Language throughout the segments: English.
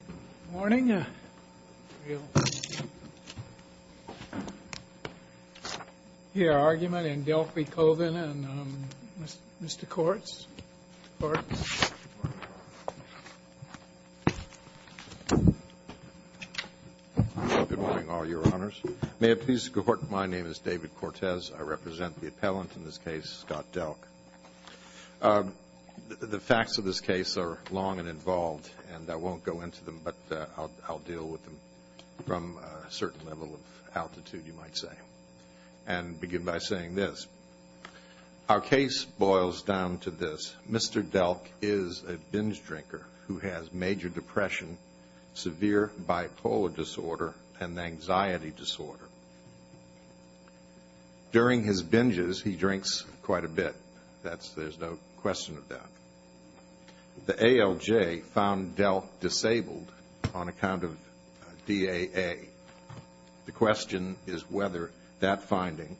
Good morning. I hear argument in Delk v. Colvin, and Mr. Kortz. Good morning, all your honors. May it please the Court, my name is David Kortez. I represent the appellant in this case, Scott Delk. The facts of this case are long and involved, and I won't go into them, but I'll deal with them from a certain level of altitude, you might say, and begin by saying this. Our case boils down to this. Mr. Delk is a binge drinker who has major depression, severe bipolar disorder, and anxiety disorder. During his binges, he drinks quite a bit. There's no question of that. The ALJ found Delk disabled on account of DAA. The question is whether that finding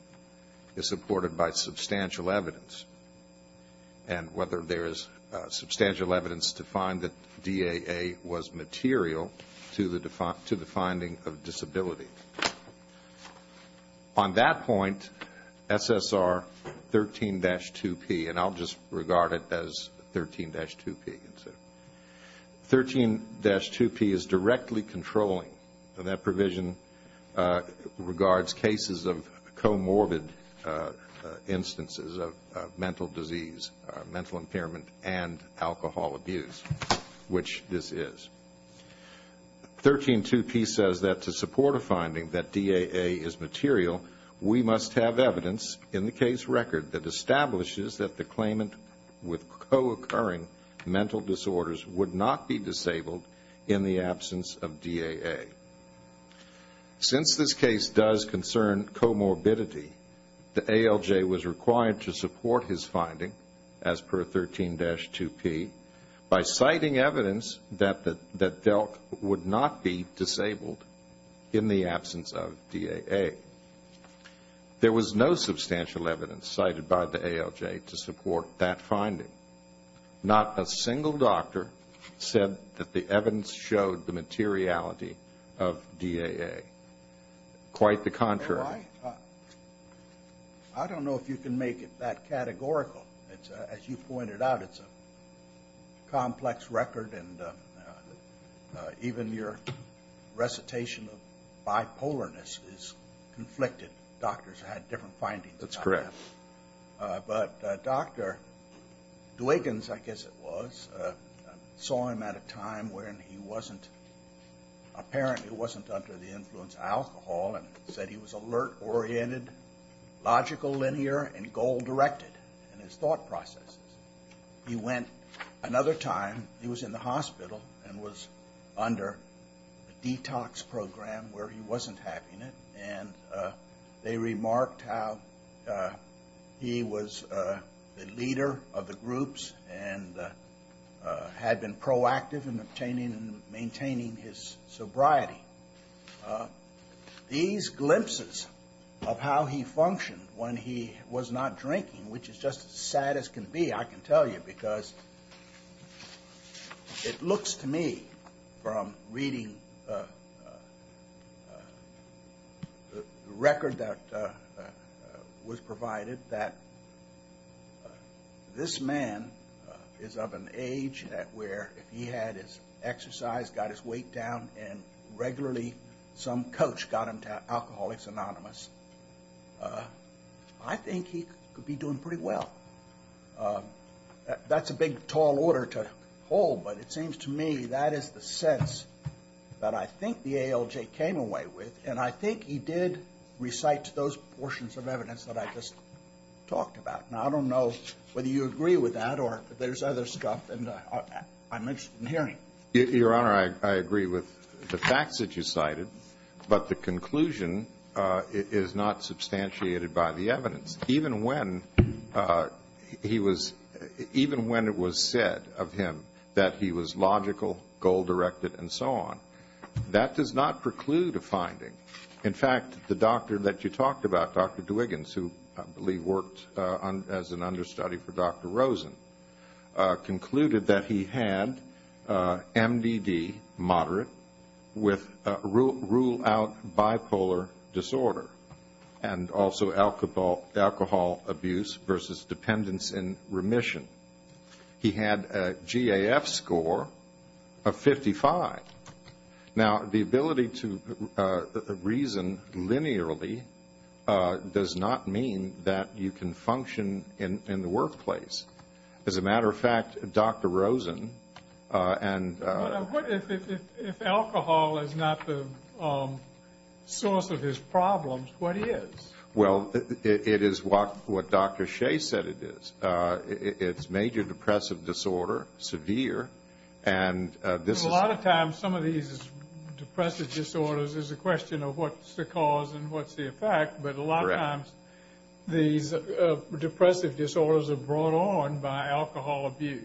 is supported by substantial evidence, and whether there is substantial evidence to find that DAA was material to the finding of disability. On that point, SSR 13-2P, and I'll just regard it as 13-2P, 13-2P is directly controlling. That provision regards cases of comorbid instances of mental disease, mental impairment, and alcohol abuse, which this is. 13-2P says that to support a finding that DAA is material, we must have evidence in the case record that establishes that the claimant with co-occurring mental disorders would not be disabled in the absence of DAA. Since this case does concern comorbidity, the ALJ was required to support his finding, as per 13-2P, by citing evidence that Delk would not be disabled in the absence of DAA. There was no substantial evidence cited by the ALJ to support that finding. Not a single doctor said that the evidence showed the materiality of DAA. Quite the contrary. I don't know if you can make it that categorical. As you pointed out, it's a complex record, and even your recitation of bipolarness is conflicted. Doctors had different findings on that. That's correct. But Dr. Dwiggins, I guess it was, saw him at a time when he apparently wasn't under the influence of alcohol and said he was alert, oriented, logical, linear, and goal-directed in his thought processes. He went another time. He was in the hospital and was under a detox program where he wasn't having it. They remarked how he was the leader of the groups and had been proactive in obtaining and maintaining his sobriety. These glimpses of how he functioned when he was not drinking, which is just as sad as can be, I can tell you, because it looks to me from reading the record that was provided that this man is of an age where if he had his exercise, got his weight down, and regularly some coach got him to Alcoholics Anonymous, I think he could be doing pretty well. That's a big, tall order to hold, but it seems to me that is the sense that I think the ALJ came away with, and I think he did recite those portions of evidence that I just talked about. Now, I don't know whether you agree with that or if there's other stuff, and I'm interested in hearing. Your Honor, I agree with the facts that you cited, but the conclusion is not substantiated by the evidence. Even when it was said of him that he was logical, goal-directed, and so on, that does not preclude a finding. In fact, the doctor that you talked about, Dr. Dwiggins, who I believe worked as an understudy for Dr. Rosen, concluded that he had MDD, moderate, with rule-out bipolar disorder, and also alcohol abuse versus dependence in remission. He had a GAF score of 55. Now, the ability to reason linearly does not mean that you can function in the workplace. As a matter of fact, Dr. Rosen and— But if alcohol is not the source of his problems, what is? Well, it is what Dr. Shea said it is. It's major depressive disorder, severe, and this is— Sometimes some of these depressive disorders is a question of what's the cause and what's the effect, but a lot of times these depressive disorders are brought on by alcohol abuse.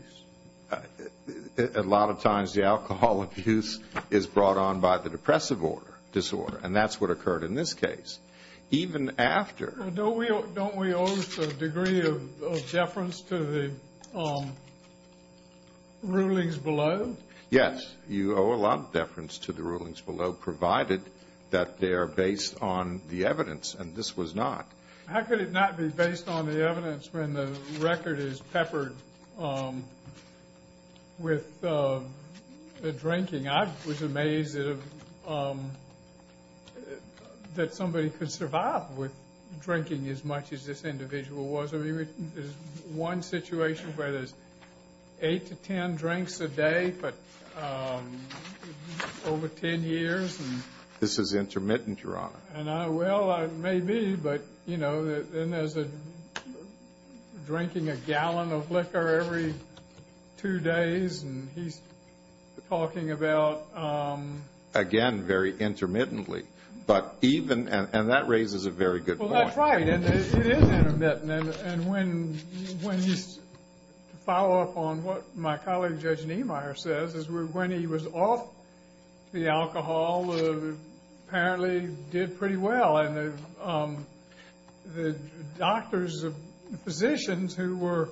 A lot of times the alcohol abuse is brought on by the depressive disorder, and that's what occurred in this case. Even after— Don't we owe a degree of deference to the rulings below? Yes. You owe a lot of deference to the rulings below, provided that they are based on the evidence, and this was not. How could it not be based on the evidence when the record is peppered with the drinking? I was amazed that somebody could survive with drinking as much as this individual was. There's one situation where there's 8 to 10 drinks a day for over 10 years. This is intermittent, Your Honor. Well, it may be, but, you know, there's drinking a gallon of liquor every two days, and he's talking about— Again, very intermittently, but even—and that raises a very good point. Well, that's right. It is intermittent, and when you follow up on what my colleague, Judge Niemeyer, says, is when he was off the alcohol, apparently he did pretty well, and the doctors, the physicians who were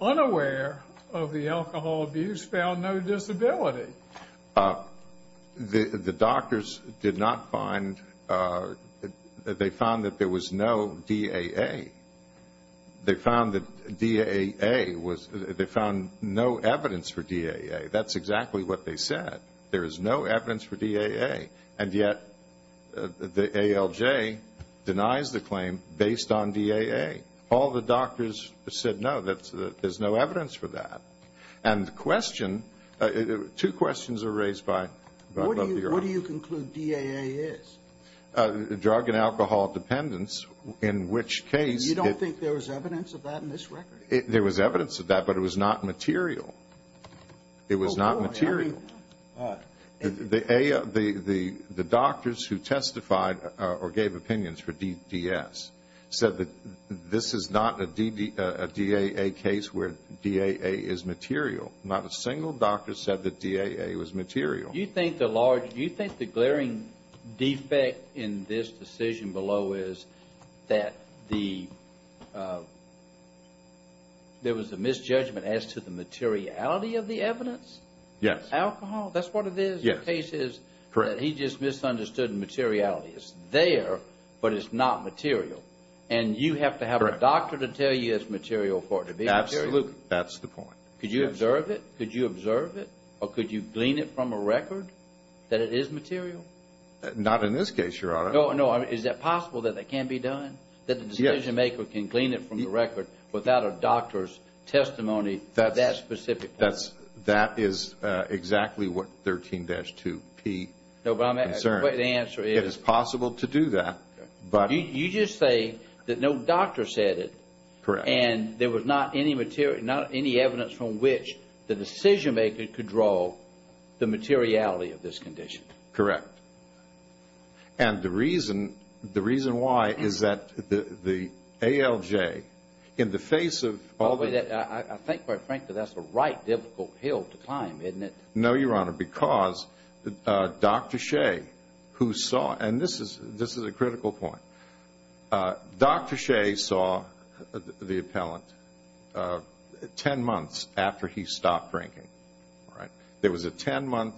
unaware of the alcohol abuse found no disability. The doctors did not find—they found that there was no DAA. They found that DAA was—they found no evidence for DAA. That's exactly what they said. There is no evidence for DAA, and yet the ALJ denies the claim based on DAA. All the doctors said, no, there's no evidence for that. And the question—two questions are raised by— What do you conclude DAA is? Drug and alcohol dependence, in which case— You don't think there was evidence of that in this record? There was evidence of that, but it was not material. It was not material. The doctors who testified or gave opinions for DDS said that this is not a DAA case where DAA is material. Not a single doctor said that DAA was material. Do you think the large—do you think the glaring defect in this decision below is that the— there was a misjudgment as to the materiality of the evidence? Yes. Alcohol, that's what it is. The case is that he just misunderstood the materiality. It's there, but it's not material. And you have to have a doctor to tell you it's material for it to be material? Absolutely. That's the point. Could you observe it? Could you observe it? Or could you glean it from a record that it is material? Not in this case, Your Honor. No, no. Is it possible that it can't be done? That the decision maker can glean it from the record without a doctor's testimony about that specific case? That is exactly what 13-2P concerns. No, but the answer is— It is possible to do that, but— You just say that no doctor said it. Correct. And there was not any evidence from which the decision maker could draw the materiality of this condition. Correct. And the reason why is that the ALJ, in the face of all the— I think, quite frankly, that's the right difficult hill to climb, isn't it? No, Your Honor, because Dr. Shea, who saw—and this is a critical point. Dr. Shea saw the appellant 10 months after he stopped drinking. There was a 10-month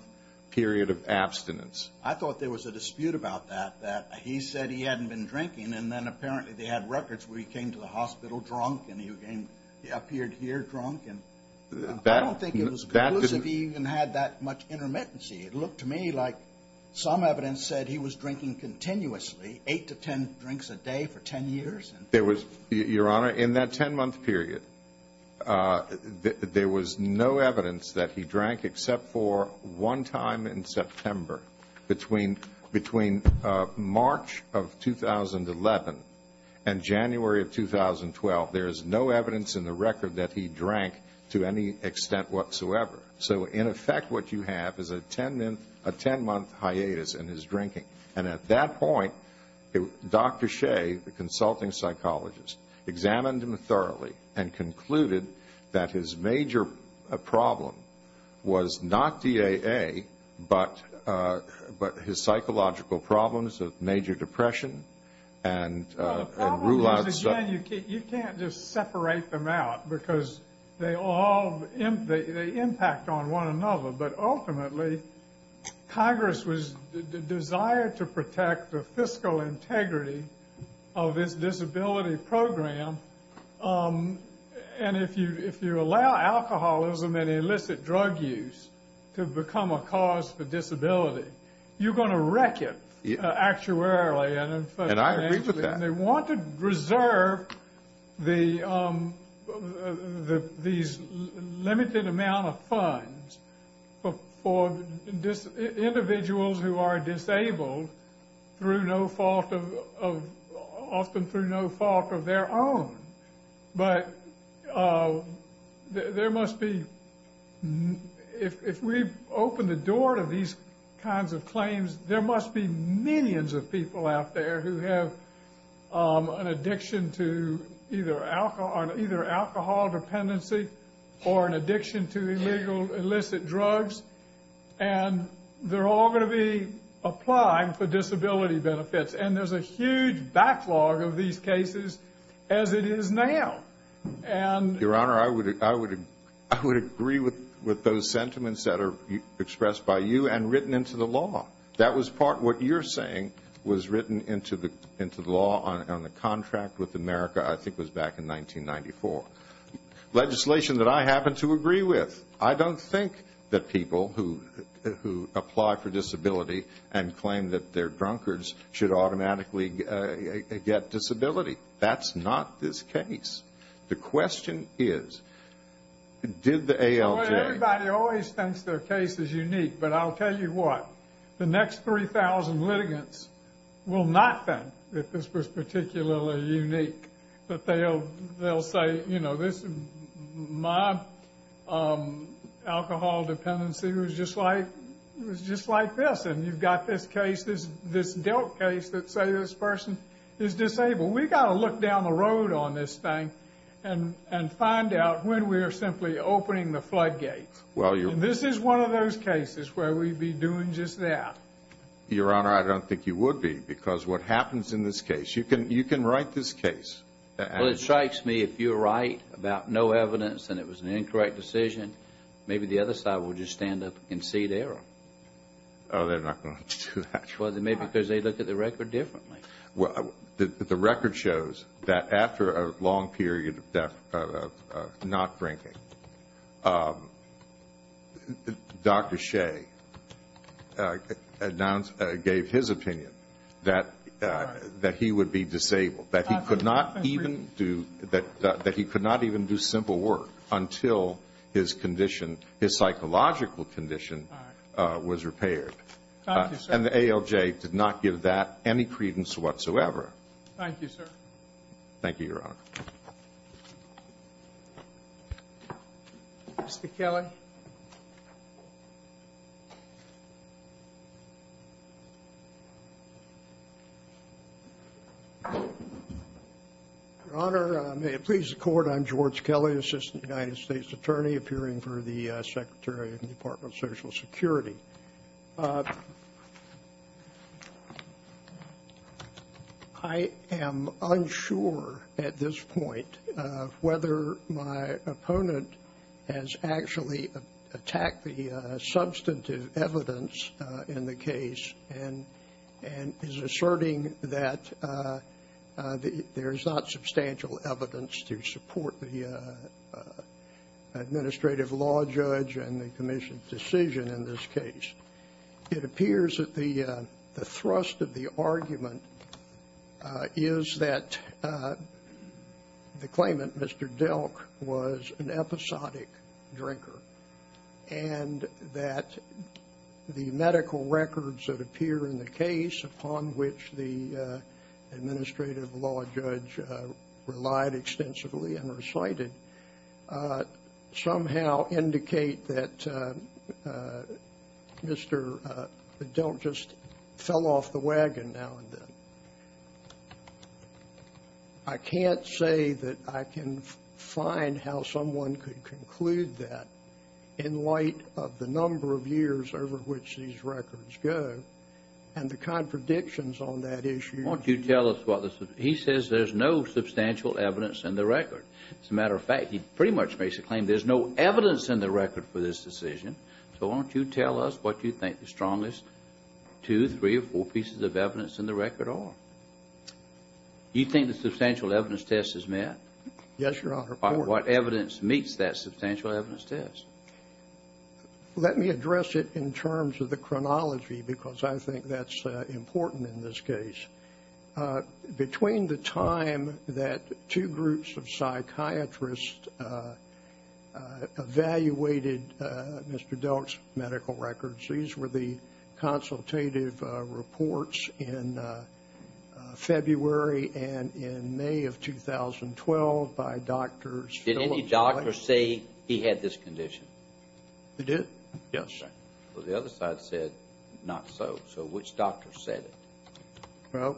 period of abstinence. I thought there was a dispute about that, that he said he hadn't been drinking, and then apparently they had records where he came to the hospital drunk and he appeared here drunk. I don't think it was because he even had that much intermittency. It looked to me like some evidence said he was drinking continuously, 8 to 10 drinks a day for 10 years. Your Honor, in that 10-month period, there was no evidence that he drank except for one time in September. Between March of 2011 and January of 2012, there is no evidence in the record that he drank to any extent whatsoever. So, in effect, what you have is a 10-month hiatus in his drinking. And at that point, Dr. Shea, the consulting psychologist, examined him thoroughly and concluded that his major problem was not DAA, but his psychological problems of major depression and— Well, the problem is, again, you can't just separate them out because they all—they impact on one another. But ultimately, Congress was—desired to protect the fiscal integrity of its disability program. And if you allow alcoholism and illicit drug use to become a cause for disability, you're going to wreck it actuarially. And I agree with that. And they want to reserve these limited amount of funds for individuals who are disabled through no fault of—often through no fault of their own. But there must be—if we open the door to these kinds of claims, there must be millions of people out there who have an addiction to either alcohol dependency or an addiction to illegal illicit drugs. And they're all going to be applying for disability benefits. And there's a huge backlog of these cases as it is now. And— Your Honor, I would agree with those sentiments that are expressed by you and written into the law. That was part—what you're saying was written into the law on the contract with America, I think it was back in 1994. Legislation that I happen to agree with. I don't think that people who apply for disability and claim that they're drunkards should automatically get disability. That's not this case. The question is, did the ALJ— Everybody always thinks their case is unique. But I'll tell you what. The next 3,000 litigants will not think that this was particularly unique. But they'll say, you know, this—my alcohol dependency was just like—it was just like this. And you've got this case, this dealt case that say this person is disabled. We've got to look down the road on this thing and find out when we are simply opening the floodgates. And this is one of those cases where we'd be doing just that. Your Honor, I don't think you would be because what happens in this case—you can write this case. Well, it strikes me if you write about no evidence and it was an incorrect decision, maybe the other side will just stand up and concede error. Oh, they're not going to do that. Well, maybe because they look at the record differently. The record shows that after a long period of not drinking, Dr. Shea gave his opinion that he would be disabled, that he could not even do simple work until his condition, his psychological condition was repaired. Thank you, sir. And the ALJ did not give that any credence whatsoever. Thank you, sir. Thank you, Your Honor. Mr. Kelly. Your Honor, may it please the Court, I'm George Kelly, Assistant United States Attorney, appearing for the Secretary of the Department of Social Security. I am unsure at this point whether my opponent has actually attacked the substantive evidence in the case and is asserting that there is not substantial evidence to support the administrative law judge and the commission's decision in this case. It appears that the thrust of the argument is that the claimant, Mr. Delk, was an episodic drinker and that the medical records that appear in the case upon which the administrative law judge relied extensively and recited somehow indicate that Mr. Delk just fell off the wagon now and then. I can't say that I can find how someone could conclude that in light of the number of years over which these records go and the contradictions on that issue. Why don't you tell us what the – he says there's no substantial evidence in the record. As a matter of fact, he pretty much makes the claim there's no evidence in the record for this decision. So why don't you tell us what you think the strongest two, three, or four pieces of evidence in the record are? Do you think the substantial evidence test has met? Yes, Your Honor. What evidence meets that substantial evidence test? Let me address it in terms of the chronology because I think that's important in this case. Between the time that two groups of psychiatrists evaluated Mr. Delk's medical records, these were the consultative reports in February and in May of 2012 by doctors. Did any doctor say he had this condition? He did, yes. Well, the other side said not so. So which doctor said it? Well,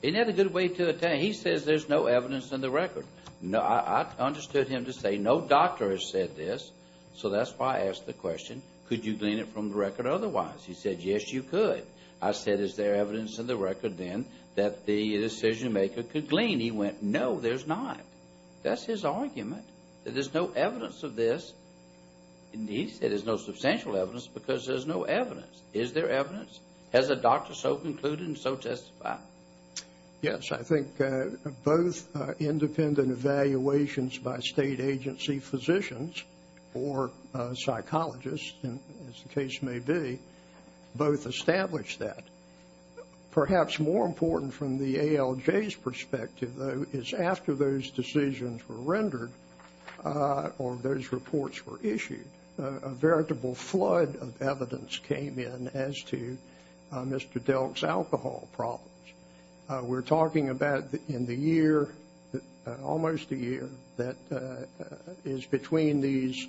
he didn't have a good way to – he says there's no evidence in the record. I understood him to say no doctor has said this, so that's why I asked the question, could you glean it from the record otherwise? He said, yes, you could. I said, is there evidence in the record then that the decision-maker could glean? He went, no, there's not. That's his argument, that there's no evidence of this. He said there's no substantial evidence because there's no evidence. Is there evidence? Has a doctor so concluded and so testified? Yes, I think both independent evaluations by state agency physicians or psychologists, as the case may be, both established that. Perhaps more important from the ALJ's perspective, though, is after those decisions were rendered or those reports were issued, a veritable flood of evidence came in as to Mr. Delk's alcohol problems. We're talking about in the year, almost a year, that is between these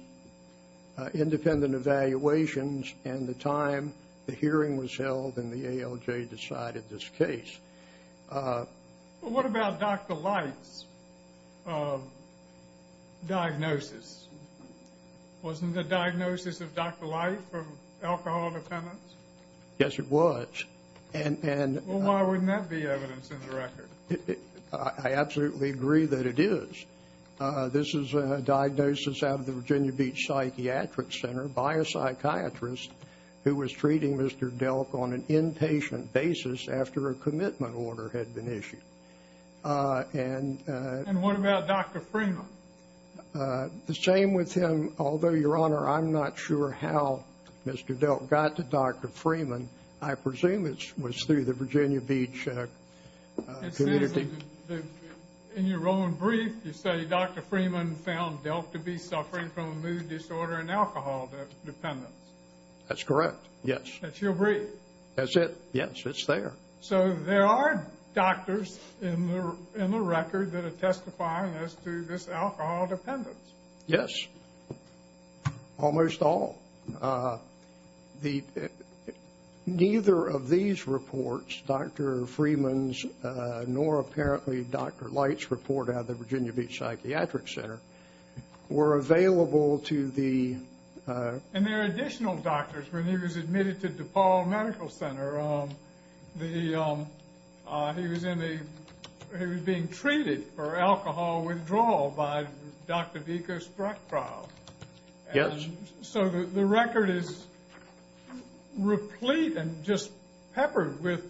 independent evaluations and the time the hearing was held and the ALJ decided this case. What about Dr. Light's diagnosis? Wasn't the diagnosis of Dr. Light from alcohol dependence? Yes, it was. Well, why wouldn't that be evidence in the record? I absolutely agree that it is. This is a diagnosis out of the Virginia Beach Psychiatric Center by a psychiatrist who was treating Mr. Delk on an inpatient basis after a commitment order had been issued. And what about Dr. Freeman? The same with him, although, Your Honor, I'm not sure how Mr. Delk got to Dr. Freeman. I presume it was through the Virginia Beach community. In your own brief, you say Dr. Freeman found Delk to be suffering from a mood disorder and alcohol dependence. That's correct, yes. That's your brief? That's it, yes. It's there. So there are doctors in the record that are testifying as to this alcohol dependence? Yes. Almost all. Neither of these reports, Dr. Freeman's nor apparently Dr. Light's report out of the Virginia Beach Psychiatric Center, were available to the... And there are additional doctors. When he was admitted to DePaul Medical Center, he was being treated for alcohol withdrawal by Dr. Vicka Sprechkraut. Yes. So the record is replete and just peppered with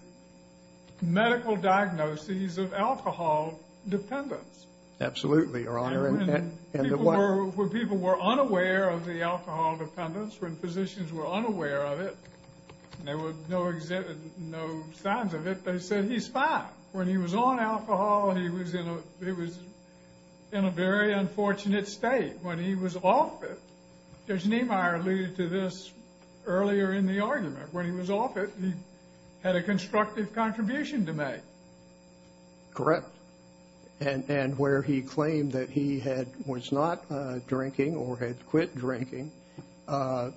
medical diagnoses of alcohol dependence. Absolutely, Your Honor. When people were unaware of the alcohol dependence, when physicians were unaware of it, and there were no signs of it, they said he's fine. When he was on alcohol, he was in a very unfortunate state. When he was off it, as Neimeyer alluded to this earlier in the argument, when he was off it, he had a constructive contribution to make. Correct. And where he claimed that he was not drinking or had quit drinking, a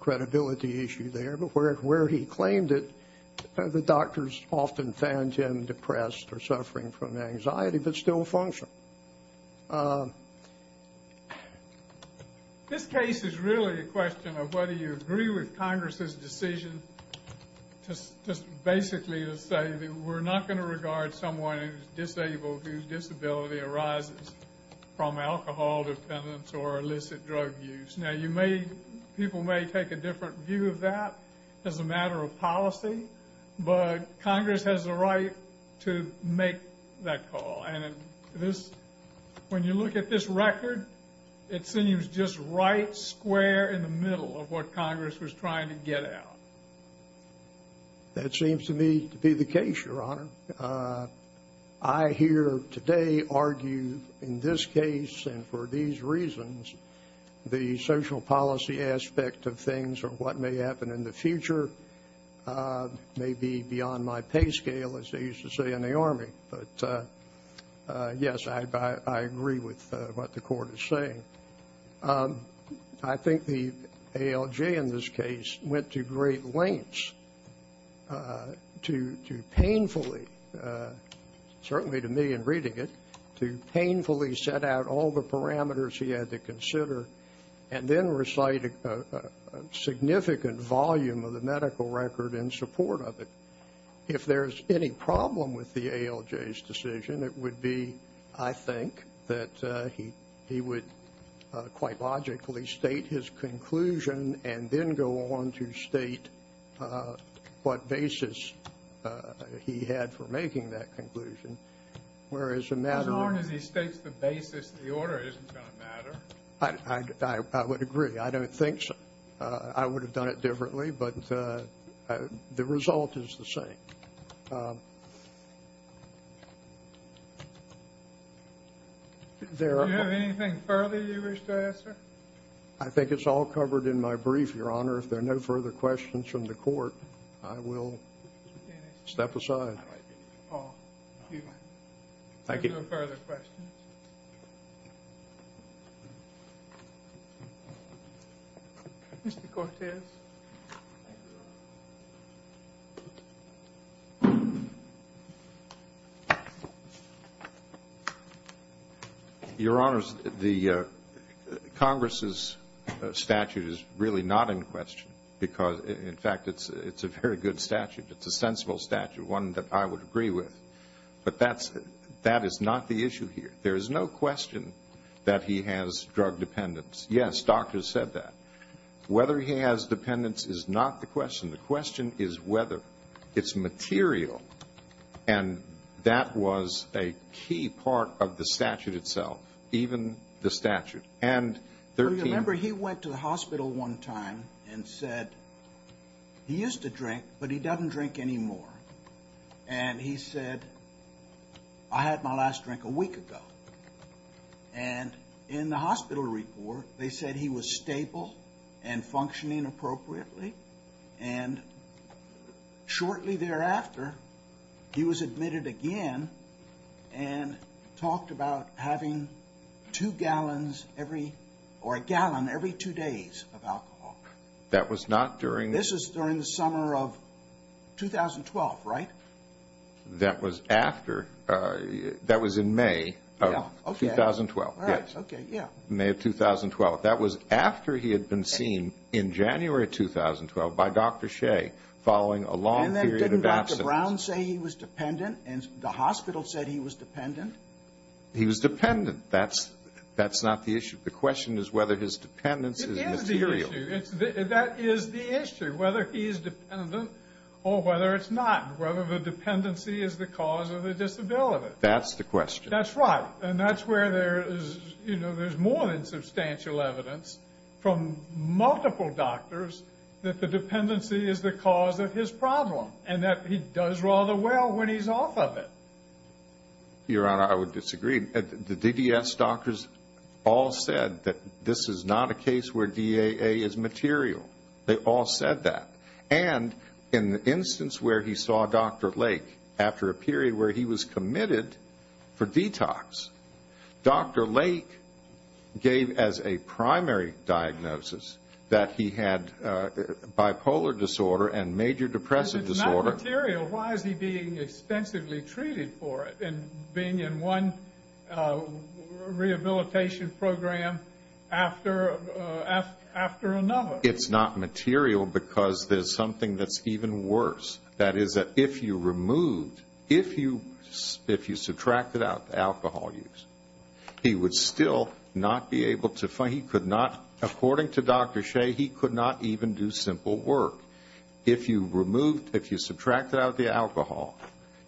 credibility issue there, but where he claimed it, the doctors often found him depressed or suffering from anxiety but still functioning. This case is really a question of whether you agree with Congress's decision just basically to say that we're not going to regard someone who's disabled, whose disability arises from alcohol dependence or illicit drug use. Now, people may take a different view of that as a matter of policy, but Congress has a right to make that call. And when you look at this record, it seems just right square in the middle of what Congress was trying to get at. That seems to me to be the case, Your Honor. I here today argue in this case and for these reasons the social policy aspect of things or what may happen in the future may be beyond my pay scale, as they used to say in the Army. But, yes, I agree with what the Court is saying. I think the ALJ in this case went to great lengths to painfully, certainly to me in reading it, to painfully set out all the parameters he had to consider and then recite a significant volume of the medical record in support of it. If there's any problem with the ALJ's decision, it would be, I think, that he would quite logically state his conclusion and then go on to state what basis he had for making that conclusion. Whereas a matter of- As long as he states the basis of the order, it isn't going to matter. I would agree. I don't think so. I would have done it differently, but the result is the same. Do you have anything further you wish to add, sir? I think it's all covered in my brief, Your Honor. If there are no further questions from the Court, I will step aside. Thank you. If there are no further questions. Mr. Cortes. Your Honors, Congress's statute is really not in question because, in fact, it's a very good statute. It's a sensible statute, one that I would agree with. But that is not the issue here. There is no question that he has drug dependence. Yes, doctors said that. Whether he has dependence is not the question. The question is whether it's material. And that was a key part of the statute itself, even the statute. And 13- Remember, he went to the hospital one time and said he used to drink, but he doesn't drink anymore. And he said, I had my last drink a week ago. And in the hospital report, they said he was stable and functioning appropriately. And shortly thereafter, he was admitted again and talked about having two gallons every or a gallon every two days of alcohol. That was not during- This is during the summer of 2012, right? That was after. That was in May of 2012. Yes. May of 2012. That was after he had been seen in January 2012 by Dr. Shea following a long period of absence. And then didn't Dr. Brown say he was dependent and the hospital said he was dependent? He was dependent. That's not the issue. The question is whether his dependence is material. It is the issue. That is the issue, whether he is dependent or whether it's not, whether the dependency is the cause of the disability. That's the question. That's right. And that's where there is more than substantial evidence from multiple doctors that the dependency is the cause of his problem and that he does rather well when he's off of it. Your Honor, I would disagree. The DDS doctors all said that this is not a case where DAA is material. They all said that. And in the instance where he saw Dr. Lake after a period where he was committed for detox, Dr. Lake gave as a primary diagnosis that he had bipolar disorder and major depressive disorder. If it's not material, why is he being extensively treated for it and being in one rehabilitation program after another? It's not material because there's something that's even worse. That is that if you removed, if you subtracted out the alcohol use, he would still not be able to find, he could not, according to Dr. Shea, he could not even do simple work. If you removed, if you subtracted out the alcohol,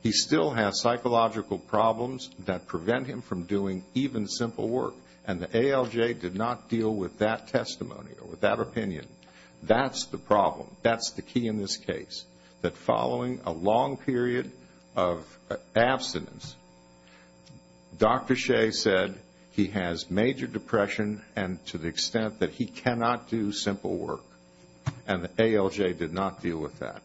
he still has psychological problems that prevent him from doing even simple work. And the ALJ did not deal with that testimony or with that opinion. That's the problem. That's the key in this case, that following a long period of abstinence, Dr. Shea said he has major depression and to the extent that he cannot do simple work. And the ALJ did not deal with that.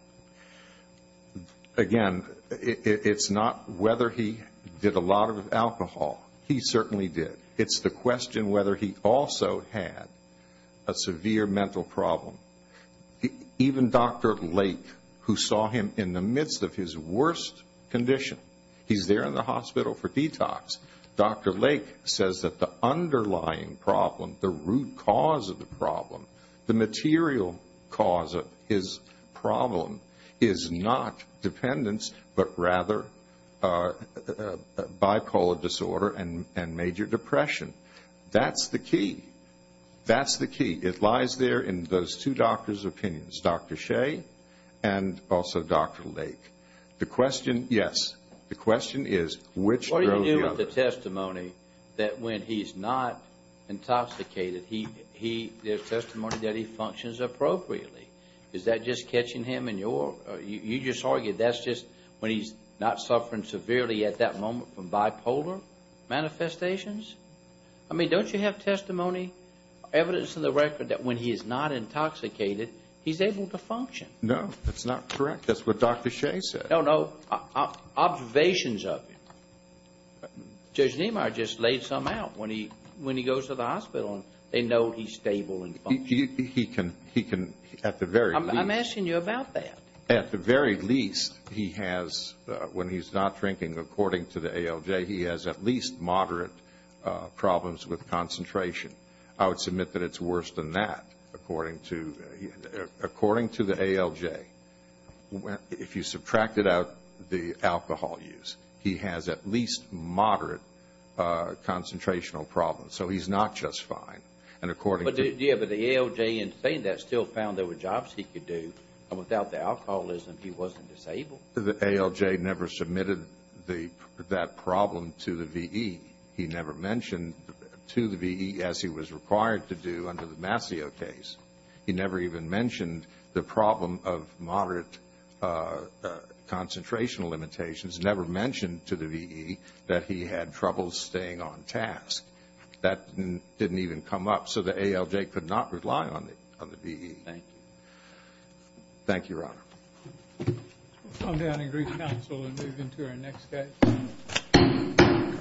Again, it's not whether he did a lot of alcohol. He certainly did. It's the question whether he also had a severe mental problem. Even Dr. Lake, who saw him in the midst of his worst condition, he's there in the hospital for detox. Dr. Lake says that the underlying problem, the root cause of the problem, the material cause of his problem, is not dependence but rather bipolar disorder and major depression. That's the key. That's the key. It lies there in those two doctors' opinions, Dr. Shea and also Dr. Lake. The question, yes, the question is which drove the other. The other testimony that when he's not intoxicated, the testimony that he functions appropriately. Is that just catching him in your, you just argued that's just when he's not suffering severely at that moment from bipolar manifestations? I mean, don't you have testimony, evidence in the record that when he is not intoxicated, he's able to function? No, that's not correct. That's what Dr. Shea said. No, no, observations of him. Judge Niemeyer just laid some out when he goes to the hospital and they know he's stable and functioning. He can, at the very least. I'm asking you about that. At the very least, he has, when he's not drinking, according to the ALJ, he has at least moderate problems with concentration. I would submit that it's worse than that, according to the ALJ. If you subtracted out the alcohol use, he has at least moderate concentrational problems. So he's not just fine. But the ALJ in saying that still found there were jobs he could do. Without the alcoholism, he wasn't disabled. The ALJ never submitted that problem to the V.E. He never mentioned to the V.E. as he was required to do under the Mascio case. He never even mentioned the problem of moderate concentrational limitations. Never mentioned to the V.E. that he had trouble staying on task. That didn't even come up, so the ALJ could not rely on the V.E. Thank you. Thank you, Your Honor. We'll come down and greet counsel and move into our next case.